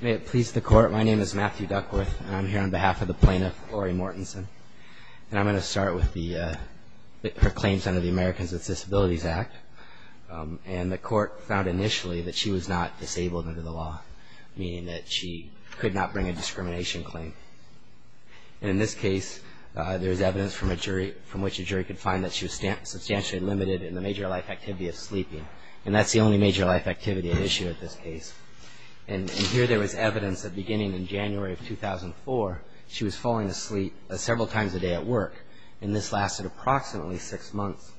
May it please the Court, my name is Matthew Duckworth, and I'm here on behalf of the plaintiff, Lori Mortensen, and I'm going to start with her claims under the Americans with Disabilities Act. And the Court found initially that she was not disabled under the law, meaning that she could not bring a discrimination claim. And in this case, there's evidence from a jury, from which a jury could find that she was substantially limited in the major life activity at issue at this case. And here there was evidence that beginning in January of 2004, she was falling asleep several times a day at work, and this lasted approximately six months.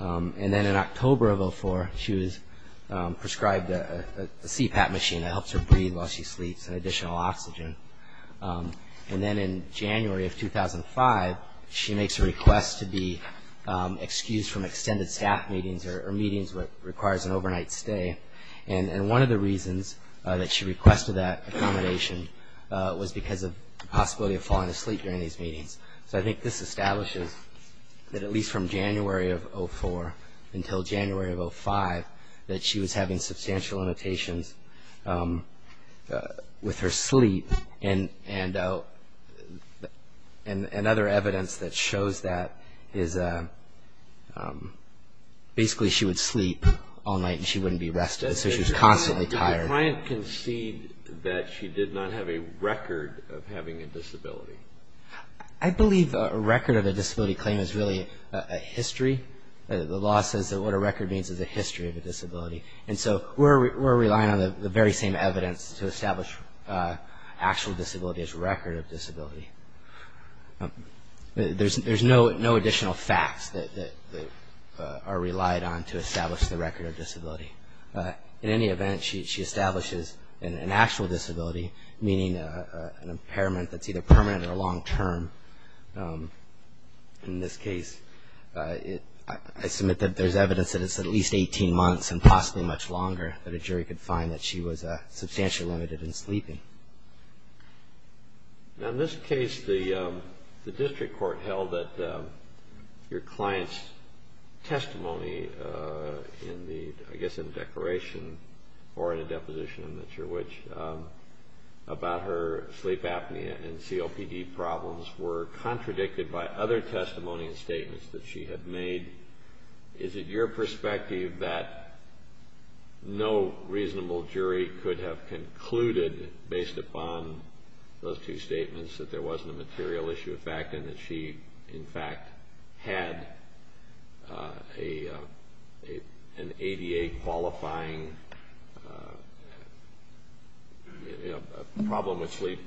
And then in October of 2004, she was prescribed a CPAP machine that helps her breathe while she sleeps, and additional oxygen. And then in January of 2005, she makes a request to be excused from extended staff meetings or meetings that requires an overnight stay. And one of the reasons that she requested that accommodation was because of the possibility of falling asleep during these meetings. So I think this establishes that at least from January of 2004 until January of 2005, that she was having substantial limitations with her sleep. And other evidence that shows that is basically she would sleep all night and she wouldn't be rested, so she was constantly tired. The client conceded that she did not have a record of having a disability. I believe a record of a disability claim is really a history. The law says that what a record means is a history of a disability. And so we're relying on the very same evidence to establish actual disability as a record of disability. There's no additional facts that are relied on to establish the record of disability. In any event, she establishes an actual disability, meaning an impairment that's either permanent or long-term. In this case, I submit that there's evidence that it's at least 18 months and possibly much longer than sleeping. Now in this case, the district court held that your client's testimony in the, I guess in the declaration or in a deposition, I'm not sure which, about her sleep apnea and COPD problems were contradicted by other testimony and statements that she had made. Is it your conclusion, based upon those two statements, that there wasn't a material issue of fact and that she, in fact, had an ADA-qualifying problem with sleep?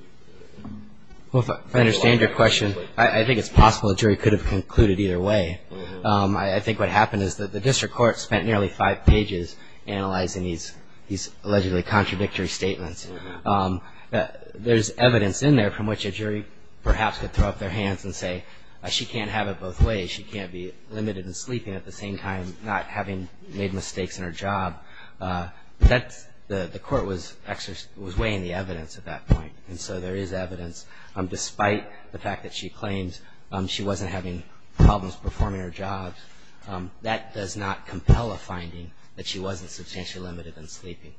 Well, if I understand your question, I think it's possible the jury could have concluded either way. I think what happened is that the district court spent nearly five pages analyzing these allegedly contradictory statements. There's evidence in there from which a jury perhaps could throw up their hands and say, she can't have it both ways. She can't be limited in sleeping at the same time, not having made mistakes in her job. The court was weighing the evidence at that point, and so there is evidence. Despite the fact that she claims she wasn't having problems performing her job, that does not compel a finding that she wasn't substantially limited in sleeping.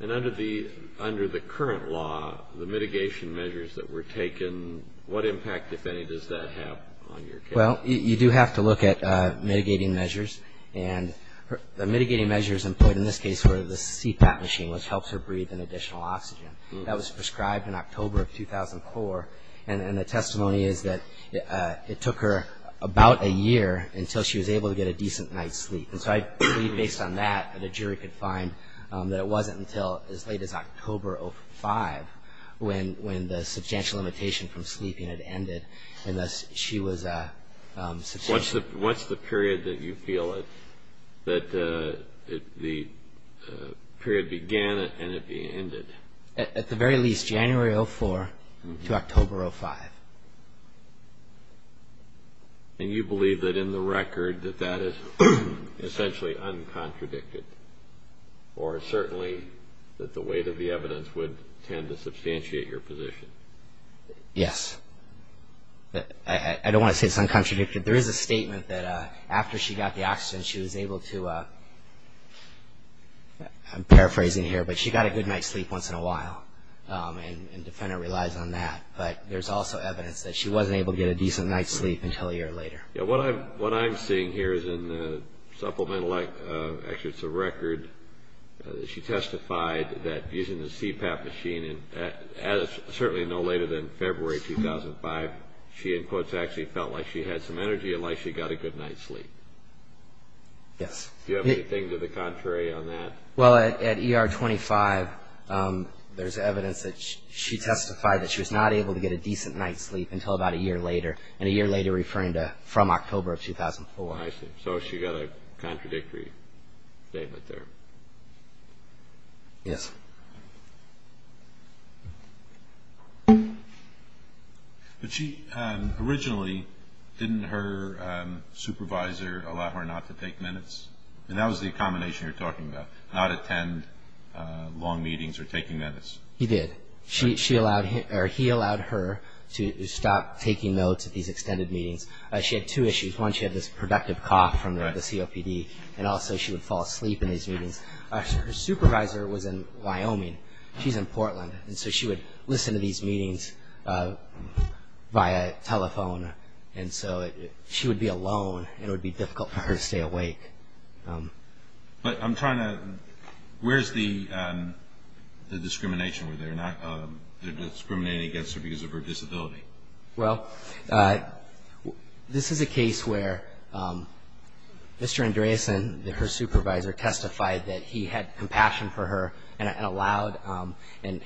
And under the current law, the mitigation measures that were taken, what impact, if any, does that have on your case? Well, you do have to look at mitigating measures, and the mitigating measures employed in this case were the CPAP machine, which helps her breathe in additional oxygen. That was prescribed in October of 2004, and the testimony is that it took her about a year until she was able to get a decent night's sleep. And so I believe, based on that, that a jury could find that it wasn't until as late as October of 2005 when the substantial limitation from sleeping had ended, and thus she was substantially limited. What's the period that you feel that the period began and it ended? At the very least, January of 2004 to October of 2005. And you believe that in the record that that is essentially uncontradicted, or certainly that the weight of the evidence would tend to substantiate your position? Yes. I don't want to say it's uncontradicted. There is a statement that after she got the oxygen she was able to, I'm paraphrasing here, but she got a good night's sleep once in a while, and there's evidence that she wasn't able to get a decent night's sleep until a year later. What I'm seeing here is in the supplemental, actually it's a record, that she testified that using the CPAP machine, certainly no later than February 2005, she in quotes actually felt like she had some energy and like she got a good night's sleep. Yes. Do you have anything to the contrary on that? Well, at ER 25, there's evidence that she testified that she was not able to get a decent night's sleep until about a year later, and a year later referring to from October of 2004. I see. So she got a contradictory statement there. Yes. But she originally, didn't her supervisor allow her not to take minutes? And that was the combination you're talking about, not attend long meetings or taking minutes. He did. He allowed her to stop taking notes at these extended meetings. She had two issues. One, she had this productive cough from the COPD, and also she would fall asleep in these meetings. Her supervisor was in Wyoming. She's in Portland, and so she would listen to these meetings via telephone, and so she would be alone and it would be difficult for her to stay awake. But I'm trying to, where's the discrimination? Were they discriminating against her because of her disability? Well, this is a case where Mr. Andreasen, her supervisor, testified that he had compassion for her and allowed, and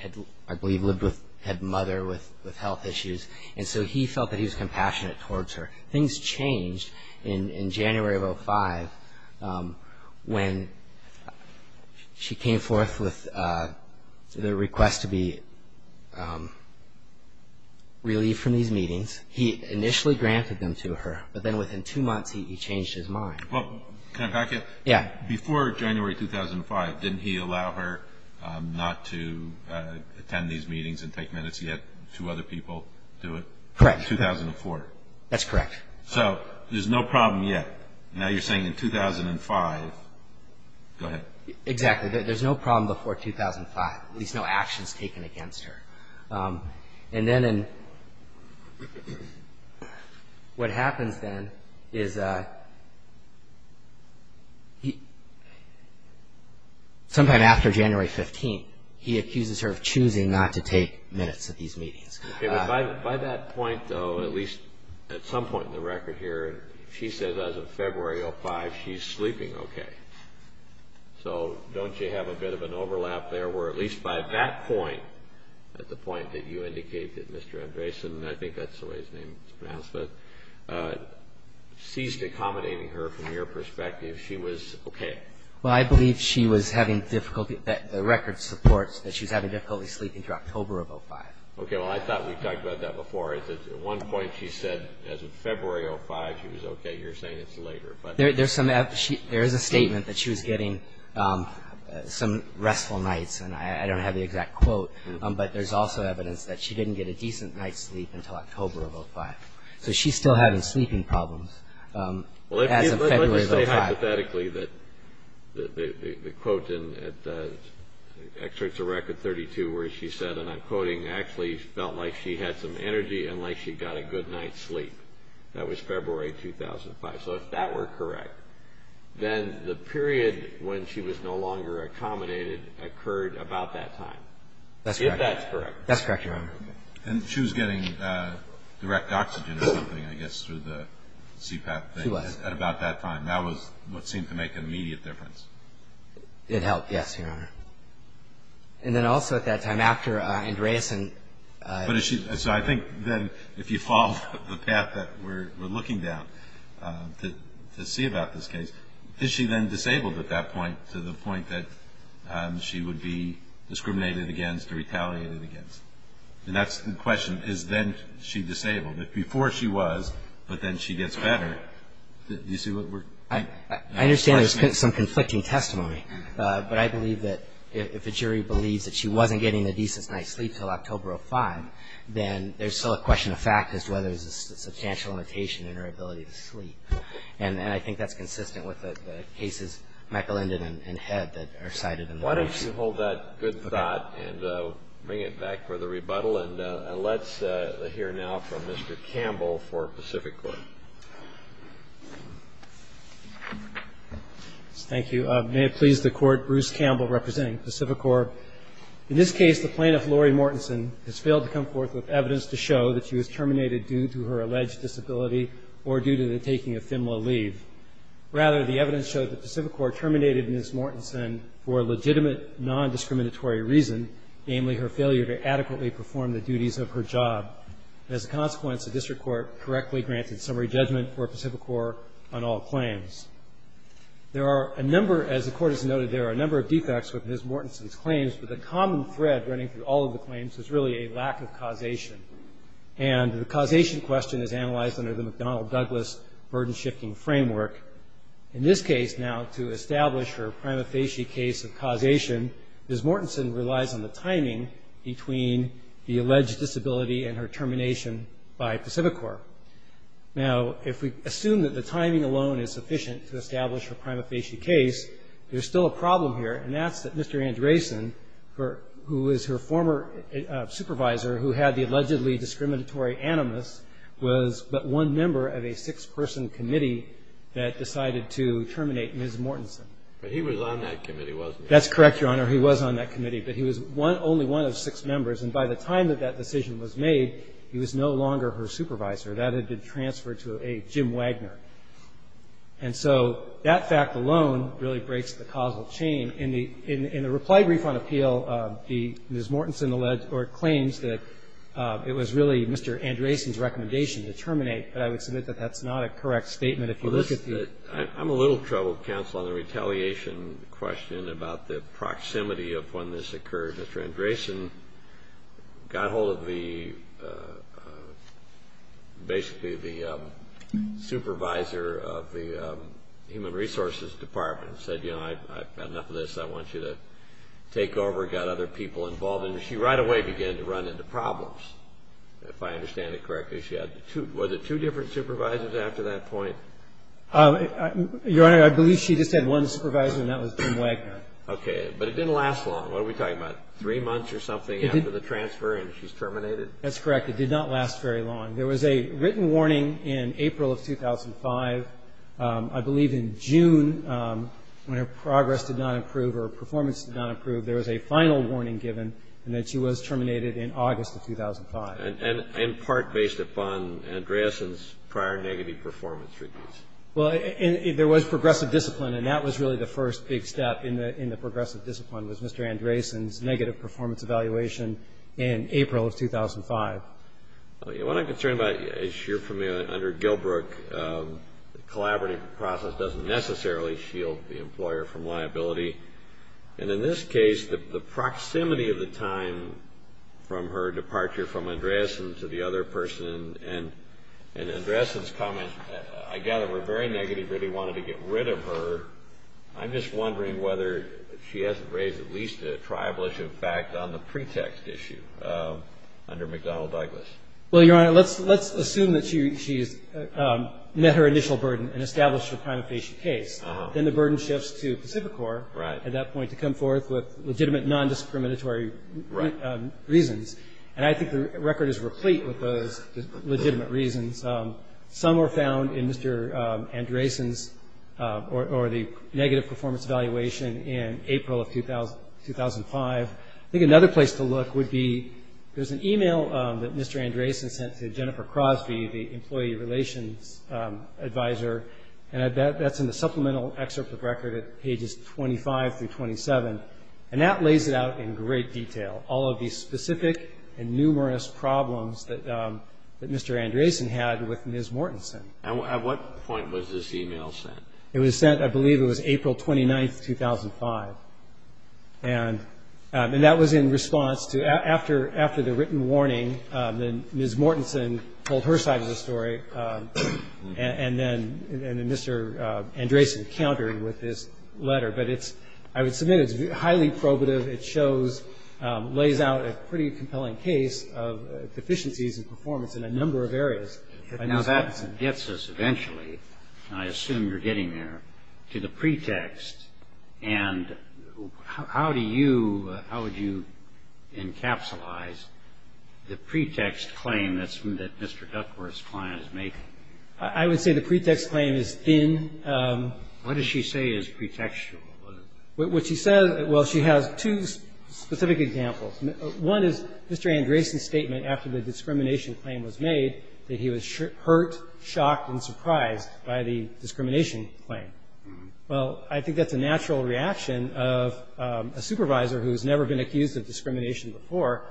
I believe lived with, had mother with health issues, and so he felt that he was compassionate towards her. Things changed in January of 2005 when she came forth with the request to be relieved from these meetings. He initially granted them to her, but then within two months he changed his mind. Well, can I back you up? Yeah. Before January 2005, didn't he allow her not to attend these meetings and take minutes? He had two other people do it? Correct. In 2004? That's correct. So there's no problem yet. Now you're saying in 2005, go ahead. Exactly. There's no problem before 2005, at least no actions taken against her. And then in, what happens then is, sometime after January 15th, he accuses her of choosing not to take minutes at these meetings. Okay, but by that point, though, at least at some point in the record here, she says as of February 2005, she's sleeping okay. So don't you have a bit of an overlap there where at least by that point, at the point that you indicate that Mr. Andreasen, I think that's the way his name is pronounced, but ceased accommodating her from your perspective, she was okay? Well, I believe she was having difficulty, that the record supports that she was having difficulty sleeping through October of 2005. Okay, well, I thought we talked about that before. At one point, she said as of February 2005, she was okay. You're saying it's later. There is a statement that she was getting some restful nights, and I don't have the exact quote, but there's also evidence that she didn't get a decent night's sleep until October of 2005. So she's still having sleeping problems as of February 2005. Hypothetically, the quote in Excerpts of Record 32 where she said, and I'm quoting, actually felt like she had some energy and like she got a good night's sleep. That was February 2005. So if that were correct, then the period when she was no longer accommodated occurred about that time. That's correct. If that's correct. That's correct, Your Honor. And she was getting direct oxygen or something, I guess, through the CPAP thing at about that time. That was what seemed to make an immediate difference. It helped, yes, Your Honor. And then also at that time after, Andreasen So I think then if you follow the path that we're looking down to see about this case, is she then disabled at that point to the point that she would be discriminated against or retaliated against? And that's the question. Is then she disabled? If before she was, but then she gets better, do you see what we're I understand there's some conflicting testimony, but I believe that if a jury believes that she wasn't getting a decent night's sleep until October 5, then there's still a question of fact as to whether there's a substantial limitation in her ability to sleep. And I think that's consistent with the cases, Michelindan and Head, that are cited in the case. Why don't you hold that good thought and bring it back for the rebuttal. And let's hear now from Mr. Campbell for Pacific Court. Thank you. May it please the Court, Bruce Campbell representing Pacific Court. In this case, the plaintiff, Lori Mortensen, has failed to come forth with evidence to show that she was terminated due to her alleged disability or due to the taking of FIMLA leave. Rather, the evidence showed that Pacific Court terminated Ms. Mortensen for a legitimate, non-discriminatory reason, namely her failure to adequately perform the duties of her job. As a consequence, the District Court correctly granted summary judgment for Pacific Court on all claims. There are a number, as the Court has noted, there are a number of defects with Ms. Mortensen's claims, but the common thread running through all of the claims is really a lack of causation. And the causation question is analyzed under the McDonnell-Douglas burden-shifting framework. In this case, now, to establish her prima facie case of the alleged disability and her termination by Pacific Court. Now, if we assume that the timing alone is sufficient to establish her prima facie case, there's still a problem here, and that's that Mr. Andresen, who is her former supervisor who had the allegedly discriminatory animus, was but one member of a six-person committee that decided to terminate Ms. Mortensen. But he was on that committee, wasn't he? That's correct, Your Honor. He was on that committee, but he was only one of six members, and by the time that that decision was made, he was no longer her supervisor. That had been transferred to a Jim Wagner. And so that fact alone really breaks the causal chain. In the reply brief on appeal, Ms. Mortensen alleged or claims that it was really Mr. Andresen's recommendation to terminate, but I would submit that that's not a correct statement if you look at the... I'm a little troubled, counsel, on the retaliation question about the proximity of when this occurred. Mr. Andresen got hold of basically the supervisor of the Human Resources Department and said, you know, I've got enough of this, I want you to take over, got other people involved, and she right away began to run into problems, if I understand it correctly. Was it two different supervisors after that point? Your Honor, I believe she just had one supervisor, and that was Jim Wagner. Okay, but it didn't last long. What are we talking about, three months or something after the transfer and she's terminated? That's correct. It did not last very long. There was a written warning in April of 2005. I believe in June, when her progress did not improve or performance did not improve, there was a final warning given and that she was terminated in August of 2005. And in part based upon Andresen's prior negative performance reviews. Well, there was progressive discipline and that was really the first big step in the progressive discipline was Mr. Andresen's negative performance evaluation in April of 2005. What I'm concerned about, as you're familiar, under Gilbrook, the collaborative process doesn't necessarily shield the employer from liability. And in this case, the proximity of the time from her departure from Andresen to the other person and Andresen's comment, I gather were very negative, really wanted to get rid of her. I'm just wondering whether she has raised at least a tribal issue of fact on the pretext issue under McDonnell-Douglas. Well, Your Honor, let's assume that she met her initial burden and established a time of patient case. Then the burden shifts to Pacificor at that point to come forth with legitimate non-discriminatory reasons. And I think the record is replete with those legitimate reasons. Some were found in Mr. Andresen's or the negative performance evaluation in April of 2005. I think another place to look would be, there's an email that Mr. Andresen sent to Jennifer Crosby, the employee relations advisor. And that's in the supplemental excerpt of the record at pages 25 through 27. And that lays it out in great detail, all of the specific and numerous problems that Mr. Andresen had with Ms. Mortensen. At what point was this email sent? It was sent, I believe it was April 29, 2005. And that was in response to, after the written warning, Ms. Mortensen told her side of the story, and then Mr. Andresen countered with this letter. But I would submit it's highly probative. It shows, lays out a pretty compelling case of deficiencies in performance in a number of areas. Now that gets us eventually, I assume you're getting there, to the pretext. And how do you, how would you encapsulize the pretext claim that Mr. Duckworth's client is making? I would say the pretext claim is thin. What does she say is pretextual? What she says, well, she has two specific examples. One is Mr. Andresen's statement after the discrimination claim was made that he was hurt, shocked, and surprised by the discrimination claim. Well, I think that's a natural reaction of a supervisor who has never been accused of discrimination before,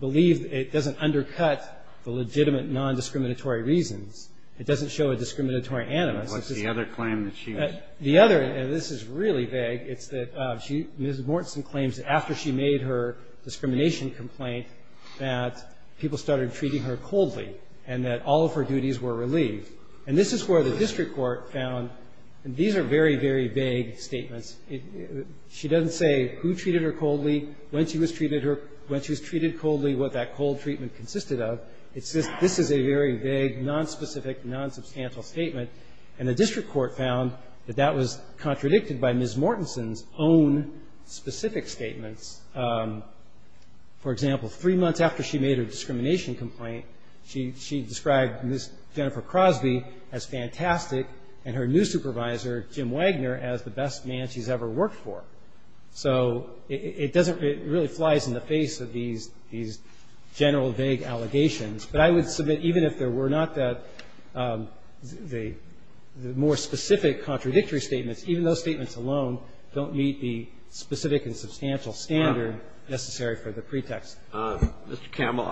believe it doesn't undercut the legitimate non-discriminatory reasons. It doesn't show a discriminatory animus. What's the other claim that she has? The other, and this is really vague, it's that Ms. Mortensen claims after she made her discrimination complaint that people started treating her coldly and that all of her duties were relieved. And this is where the district court found, and these are very, very vague statements, she doesn't say who treated her coldly, when she was treated coldly, what that cold treatment consisted of. This is a very vague, nonspecific, nonsubstantial statement, and the district court found that that was contradicted by Ms. Mortensen's own specific statements. For example, three months after she made her discrimination complaint, she described Ms. Jennifer Crosby as fantastic and her new supervisor, Jim Wagner, as the best man she's ever worked for. So it doesn't, it really flies in the face of these general, vague allegations. But I would submit even if there were not that, the more specific contradictory statements, even those statements alone don't meet the specific and substantial standard necessary for the pretext. Mr. Campbell,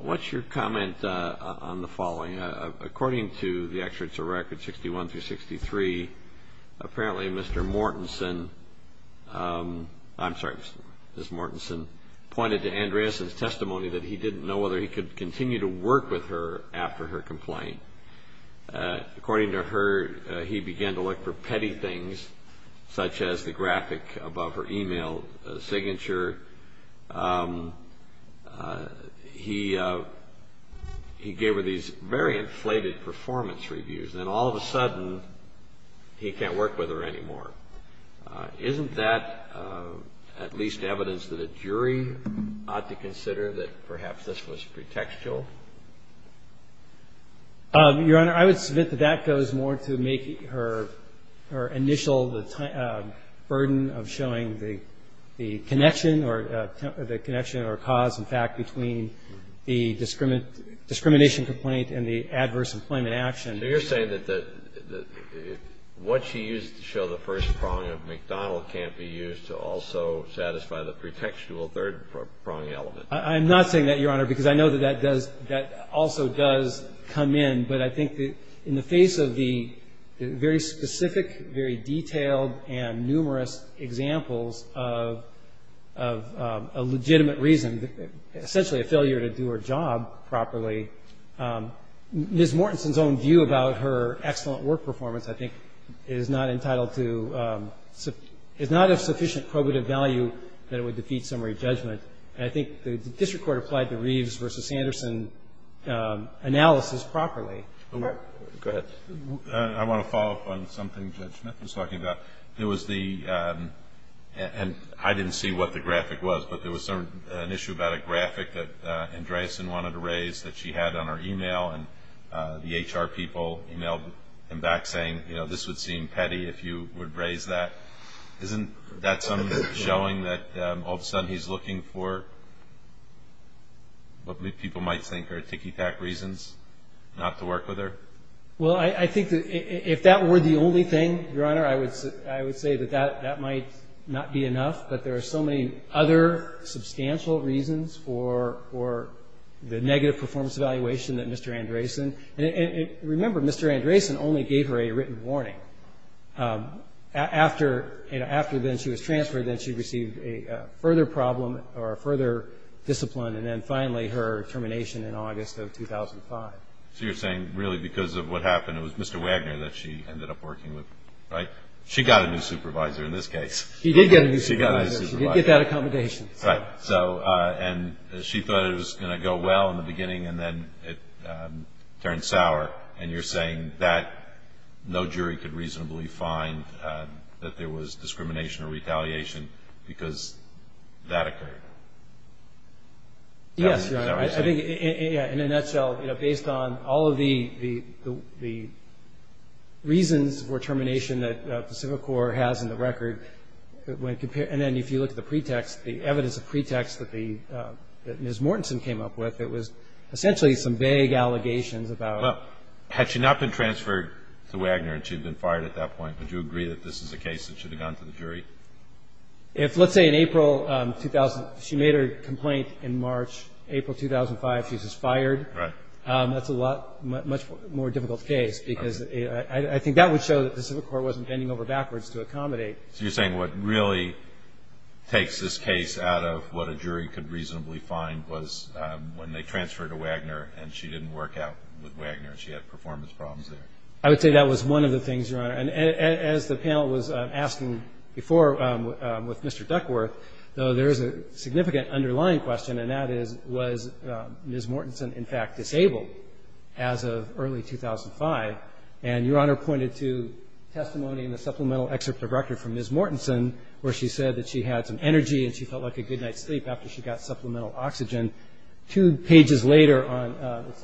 what's your comment on the following? According to the Extracts of Records 61 through 63, apparently Mr. Mortensen, I'm sorry, Ms. Mortensen, pointed to Andreas' testimony that he didn't know whether he could continue to work with her after her complaint. According to her, he began to look for petty things, such as the graphic above her email signature. He gave her these very inflated performance reviews. Then all of a sudden, he can't work with her anymore. Isn't that at least evidence that a jury ought to consider that perhaps this was pretextual? Your Honor, I would submit that that goes more to make her initial burden of showing the connection or cause, in fact, between the discrimination complaint and the adverse employment action. So you're saying that what she used to show the first prong of McDonald can't be used to also satisfy the pretextual third prong element? I'm not saying that, Your Honor, because I know that that also does come in. But I think that in the face of the very specific, very detailed, and numerous examples of a legitimate reason, essentially a failure to do her job properly, Ms. Mortensen's own view about her excellent work performance, I think, is not of sufficient probative value that it would defeat summary judgment. And I think the district court applied the Reeves v. Sanderson analysis properly. Go ahead. I want to follow up on something Judge Smith was talking about. And I didn't see what the graphic was, but there was an issue about a graphic that Andreasen wanted to raise that she had on her email, and the HR people emailed him back saying, you know, this would seem petty if you would raise that. Isn't that something showing that all of a sudden he's looking for what people might think are ticky-tack reasons not to work with her? Well, I think that if that were the only thing, Your Honor, I would say that that might not be enough. But there are so many other substantial reasons for the negative performance evaluation that Mr. Andreasen, and remember, Mr. Andreasen only gave her a written warning. After then she was transferred, then she received a further problem, or a further discipline, and then finally her termination in August of 2005. So you're saying really because of what happened, it was Mr. Wagner that she ended up working with, right? She got a new supervisor in this case. She did get a new supervisor. She got a new supervisor. She did get that accommodation. Right. So, and she thought it was going to go well in the beginning, and then it turned sour, and you're saying that no jury could reasonably find that there was discrimination or retaliation because that occurred. Yes, Your Honor. I think in a nutshell, based on all of the reasons for termination that Pacific Corps has in the record, and then if you look at the pretext, the evidence of pretext that Ms. Mortensen came up with, it was essentially some vague allegations about... Well, had she not been transferred to Wagner and she had been fired at that point, would you agree that this is a case that should have gone to the jury? If, let's say, in April 2000, she made her complaint in March. April 2005, she's just fired. Right. That's a lot, much more difficult case because I think that would show that the Pacific Corps wasn't bending over backwards to accommodate. So you're saying what really takes this case out of what a jury could reasonably find was when they transferred her to Wagner and she didn't work out with Wagner and she had performance problems there? I would say that was one of the things, Your Honor. As the panel was asking before with Mr. Duckworth, there is a significant underlying question, and that is, was Ms. Mortensen, in fact, disabled as of early 2005? And Your Honor pointed to testimony in the supplemental excerpt of record from Ms. Mortensen where she said that she had some energy and she felt like a good night's sleep after she got supplemental oxygen. Two pages later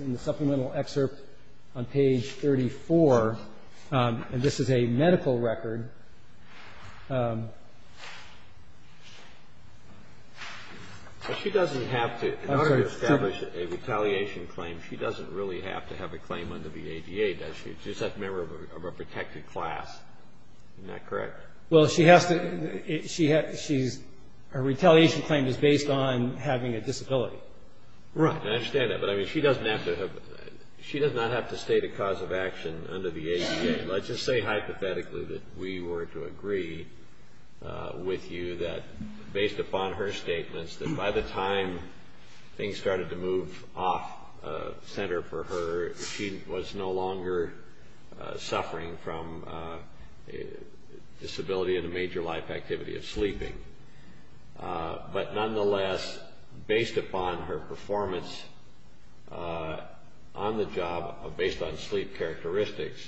in the supplemental excerpt on page 34, and this is a medical record. She doesn't have to, in order to establish a retaliation claim, she doesn't really have to have a claim under the ADA, does she? She's just a member of a protected class. Isn't that correct? Well, she has to, her retaliation claim is based on having a disability. Right. I understand that, but I mean, she doesn't have to have, she does not have to state a cause of action under the ADA. Let's just say hypothetically that we were to agree with you that, based upon her statements, that by the time things started to move off-center for her, she was no longer suffering from disability and a major life loss. Based on her performance on the job, based on sleep characteristics,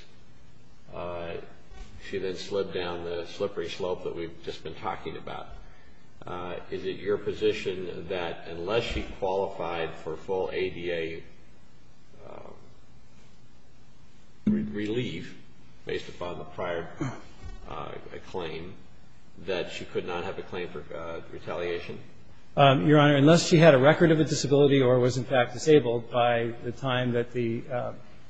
she then slid down the slippery slope that we've just been talking about. Is it your position that unless she qualified for full ADA relief, based upon the prior claim, that she could not have a claim for retaliation? Your Honor, unless she had a record of a disability or was, in fact, disabled by the time that the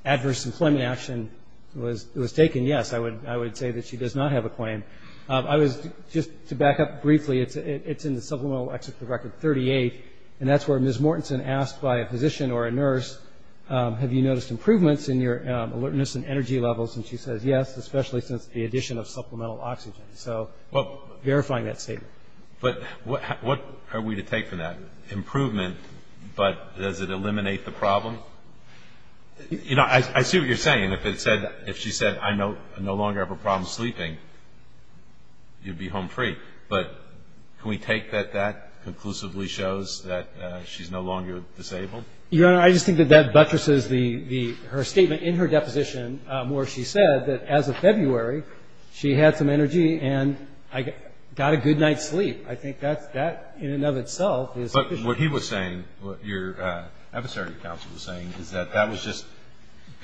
adverse employment action was taken, yes, I would say that she does not have a claim. Just to back up briefly, it's in the supplemental exit for record 38, and that's where Ms. Mortenson asked by a physician or a nurse, have you noticed improvements in your alertness and energy levels? And she says yes, especially since the addition of supplemental oxygen. So verifying that statement. But what are we to take from that? Improvement, but does it eliminate the problem? You know, I see what you're saying. If she said, I no longer have a problem sleeping, you'd be home free. But can we take that that conclusively shows that she's no longer disabled? Your Honor, I just think that that buttresses her statement in her deposition where she said that as of February, she had some energy and got a good night's sleep. I think that in and of itself is... But what he was saying, what your adversary counsel was saying, is that that was just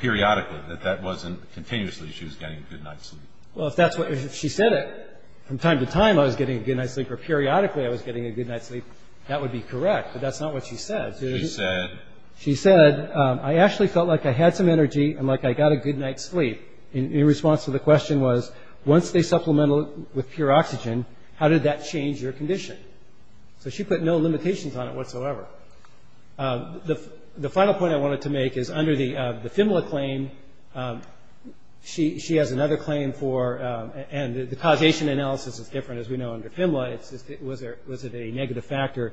periodically, that that wasn't continuously she was getting a good night's sleep. Well, if she said it, from time to time I was getting a good night's sleep or periodically I was getting a good night's sleep, that would be correct. But that's not what she said. She said... She said, I actually felt like I had some energy and like I got a good night's sleep. In response to the question was, once they supplemented with pure oxygen, how did that change your condition? So she put no limitations on it whatsoever. The final point I wanted to make is under the FIMLA claim, she has another claim for... And the causation analysis is different as we know under FIMLA. Was it a negative factor?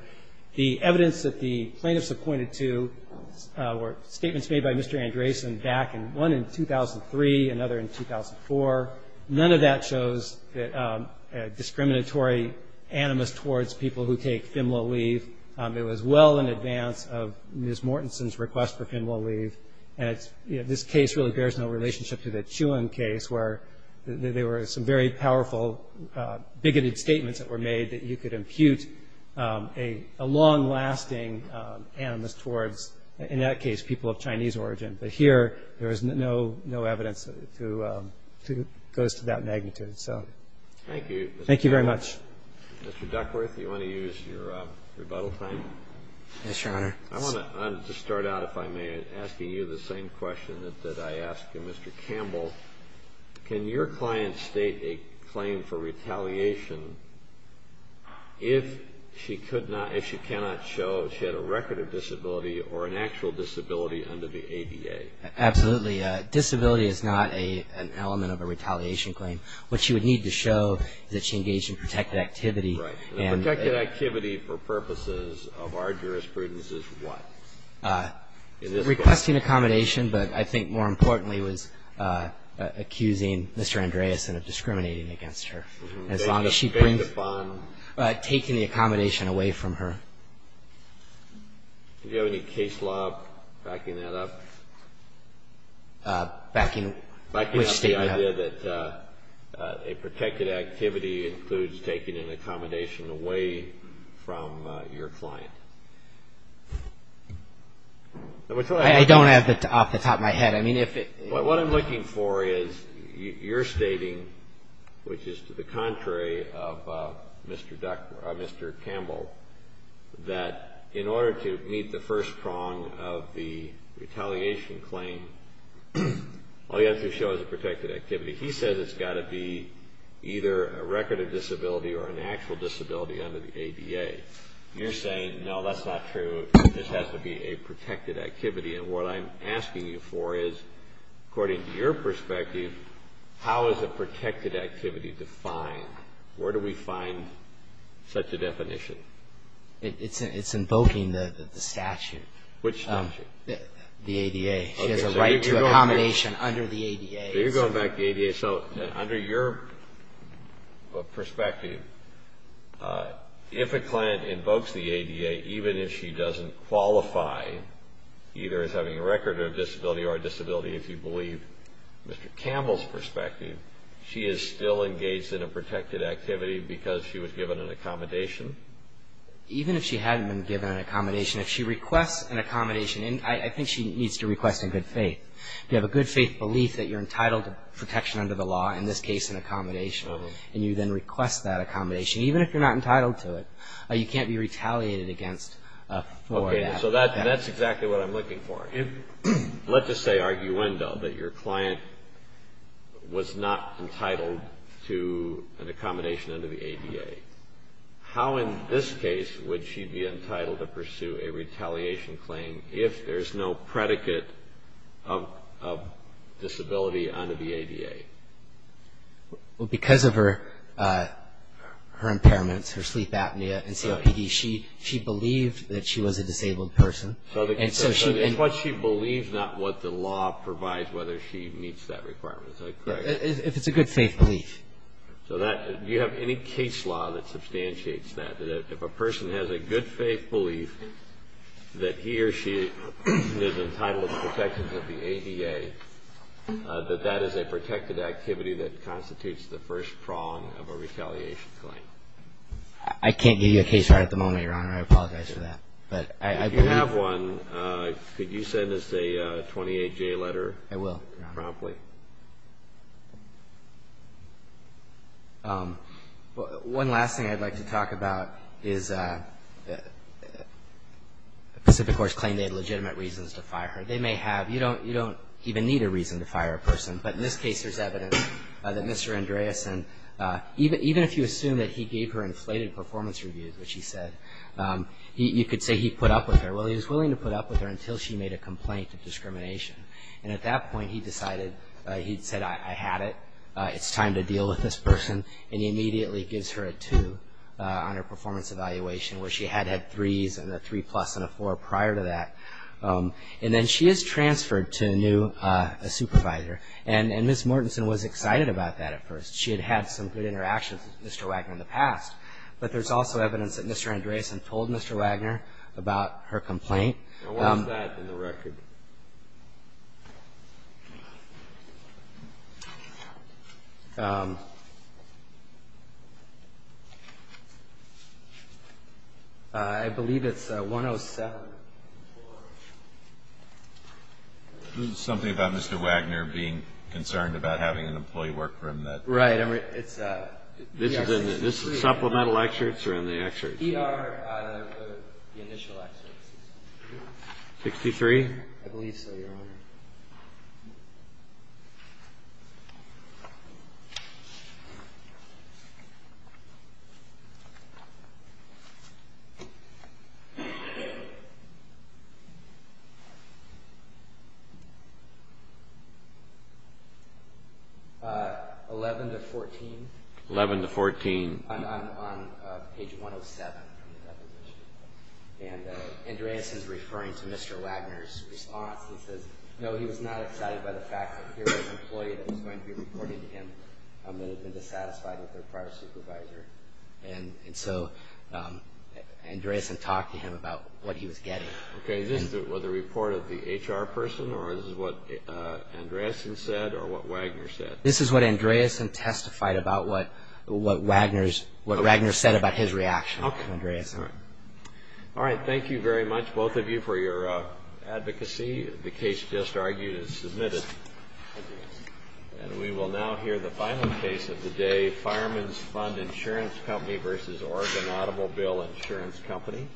The evidence that the plaintiffs have pointed to were statements made by Mr. Andresen back in... One in 2003, another in 2004. None of that shows a discriminatory animus towards people who take FIMLA leave. It was well in advance of Ms. Mortensen's request for FIMLA leave. And this case really bears no relationship to the Chuang case where there were some very powerful bigoted statements that were made that you could impute a long-lasting animus towards, in that case, people of Chinese origin. But here, there is no evidence that goes to that magnitude. Thank you. Thank you very much. Mr. Duckworth, do you want to use your rebuttal time? Yes, Your Honor. I want to start out, if I may, asking you the same question that I asked you. Mr. Campbell, can your client state a claim for retaliation if she could not, if she cannot show she had a record of disability or an actual disability under the ADA? Absolutely. Disability is not an element of a retaliation claim. What she would need to show is that she engaged in protected activity. Right. And protected activity for purposes of our jurisprudence is what? Requesting accommodation, but I think more importantly was accusing Mr. Andreasen of discriminating against her as long as she brings... Taking the fund. Taking the accommodation away from her. Do you have any case law backing that up? Backing which statement up? Backing up the idea that a protected activity includes taking an accommodation away from your client. I don't have it off the top of my head. What I'm looking for is your stating, which is to the contrary of Mr. Campbell, that in order to meet the first prong of the retaliation claim, all you have to show is a protected activity. He says it's got to be either a record of disability or an actual disability under the ADA. You're saying, no, that's not true. This has to be a protected activity. And what I'm asking you for is, according to your perspective, how is a protected activity defined? Where do we find such a definition? It's invoking the statute. Which statute? The ADA. She has a right to accommodation under the ADA. So you're going back to the ADA. So under your perspective, if a client invokes the ADA, even if she doesn't qualify either as having a record of disability or a disability, if you believe Mr. Campbell's perspective, she is still engaged in a protected activity because she was given an accommodation? Even if she hadn't been given an accommodation, if she requests an accommodation, and I think she needs to request in good faith, you have a good faith belief that you're entitled to protection under the law, in this case an accommodation, and you then request that accommodation, even if you're not entitled to it, you can't be retaliated against for that. Okay. So that's exactly what I'm looking for. Let's just say, arguendo, that your client was not entitled to an accommodation under the ADA. How, in this case, would she be entitled to pursue a retaliation claim if there's no predicate of disability under the ADA? Because of her impairments, her sleep apnea and COPD, she believed that she was a disabled person. So it's what she believes, not what the law provides, whether she meets that requirement. If it's a good faith belief. Do you have any case law that substantiates that? If a person has a good faith belief that he or she is entitled to protections under the ADA, that that is a protected activity that constitutes the first prong of a retaliation claim? I can't give you a case right at the moment, Your Honor. I apologize for that. If you have one, could you send us a 28-J letter promptly? I will, Your Honor. One last thing I'd like to talk about is Pacific Horse claimed they had legitimate reasons to fire her. They may have. You don't even need a reason to fire a person. But in this case, there's evidence that Mr. Andreessen, even if you assume that he gave her inflated performance reviews, which he said, you could say he put up with her. Well, he was willing to put up with her until she made a complaint of discrimination. And at that point, he decided, he said, I had it. It's time to deal with this person. And he immediately gives her a two on her performance evaluation, where she had had threes and a three plus and a four prior to that. And then she is transferred to a new supervisor. And Ms. Mortensen was excited about that at first. She had had some good interactions with Mr. Wagner in the past. But there's also evidence that Mr. Andreessen told Mr. Wagner about her complaint. Now, what's that in the record? I believe it's 107. This is something about Mr. Wagner being concerned about having an employee work for him that. Right. This is in the supplemental excerpts or in the excerpts? The initial excerpts. 63? I believe so, Your Honor. 11 to 14. 11 to 14? I'm on page 107. And Andreessen's referring to Mr. Wagner's response. He says, no, he was not excited by the fact that here was an employee that was going to be reporting to him that had been dissatisfied with their prior supervisor. And so Andreessen talked to him about what he was getting. Okay, this was a report of the HR person, or this is what Andreessen said, or what Wagner said? This is what Andreessen testified about what Wagner said about his reaction to Andreessen. All right, thank you very much, both of you, for your advocacy. The case just argued is submitted. And we will now hear the final case of the day, Fireman's Fund Insurance Company v. Oregon Automobile Insurance Company.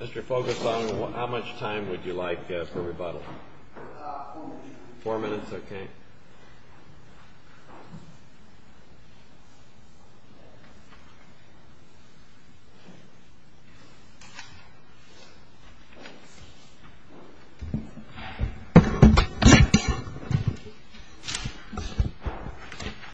Mr. Fogerson, how much time would you like for rebuttal? Four minutes. Four minutes, okay. Thank you.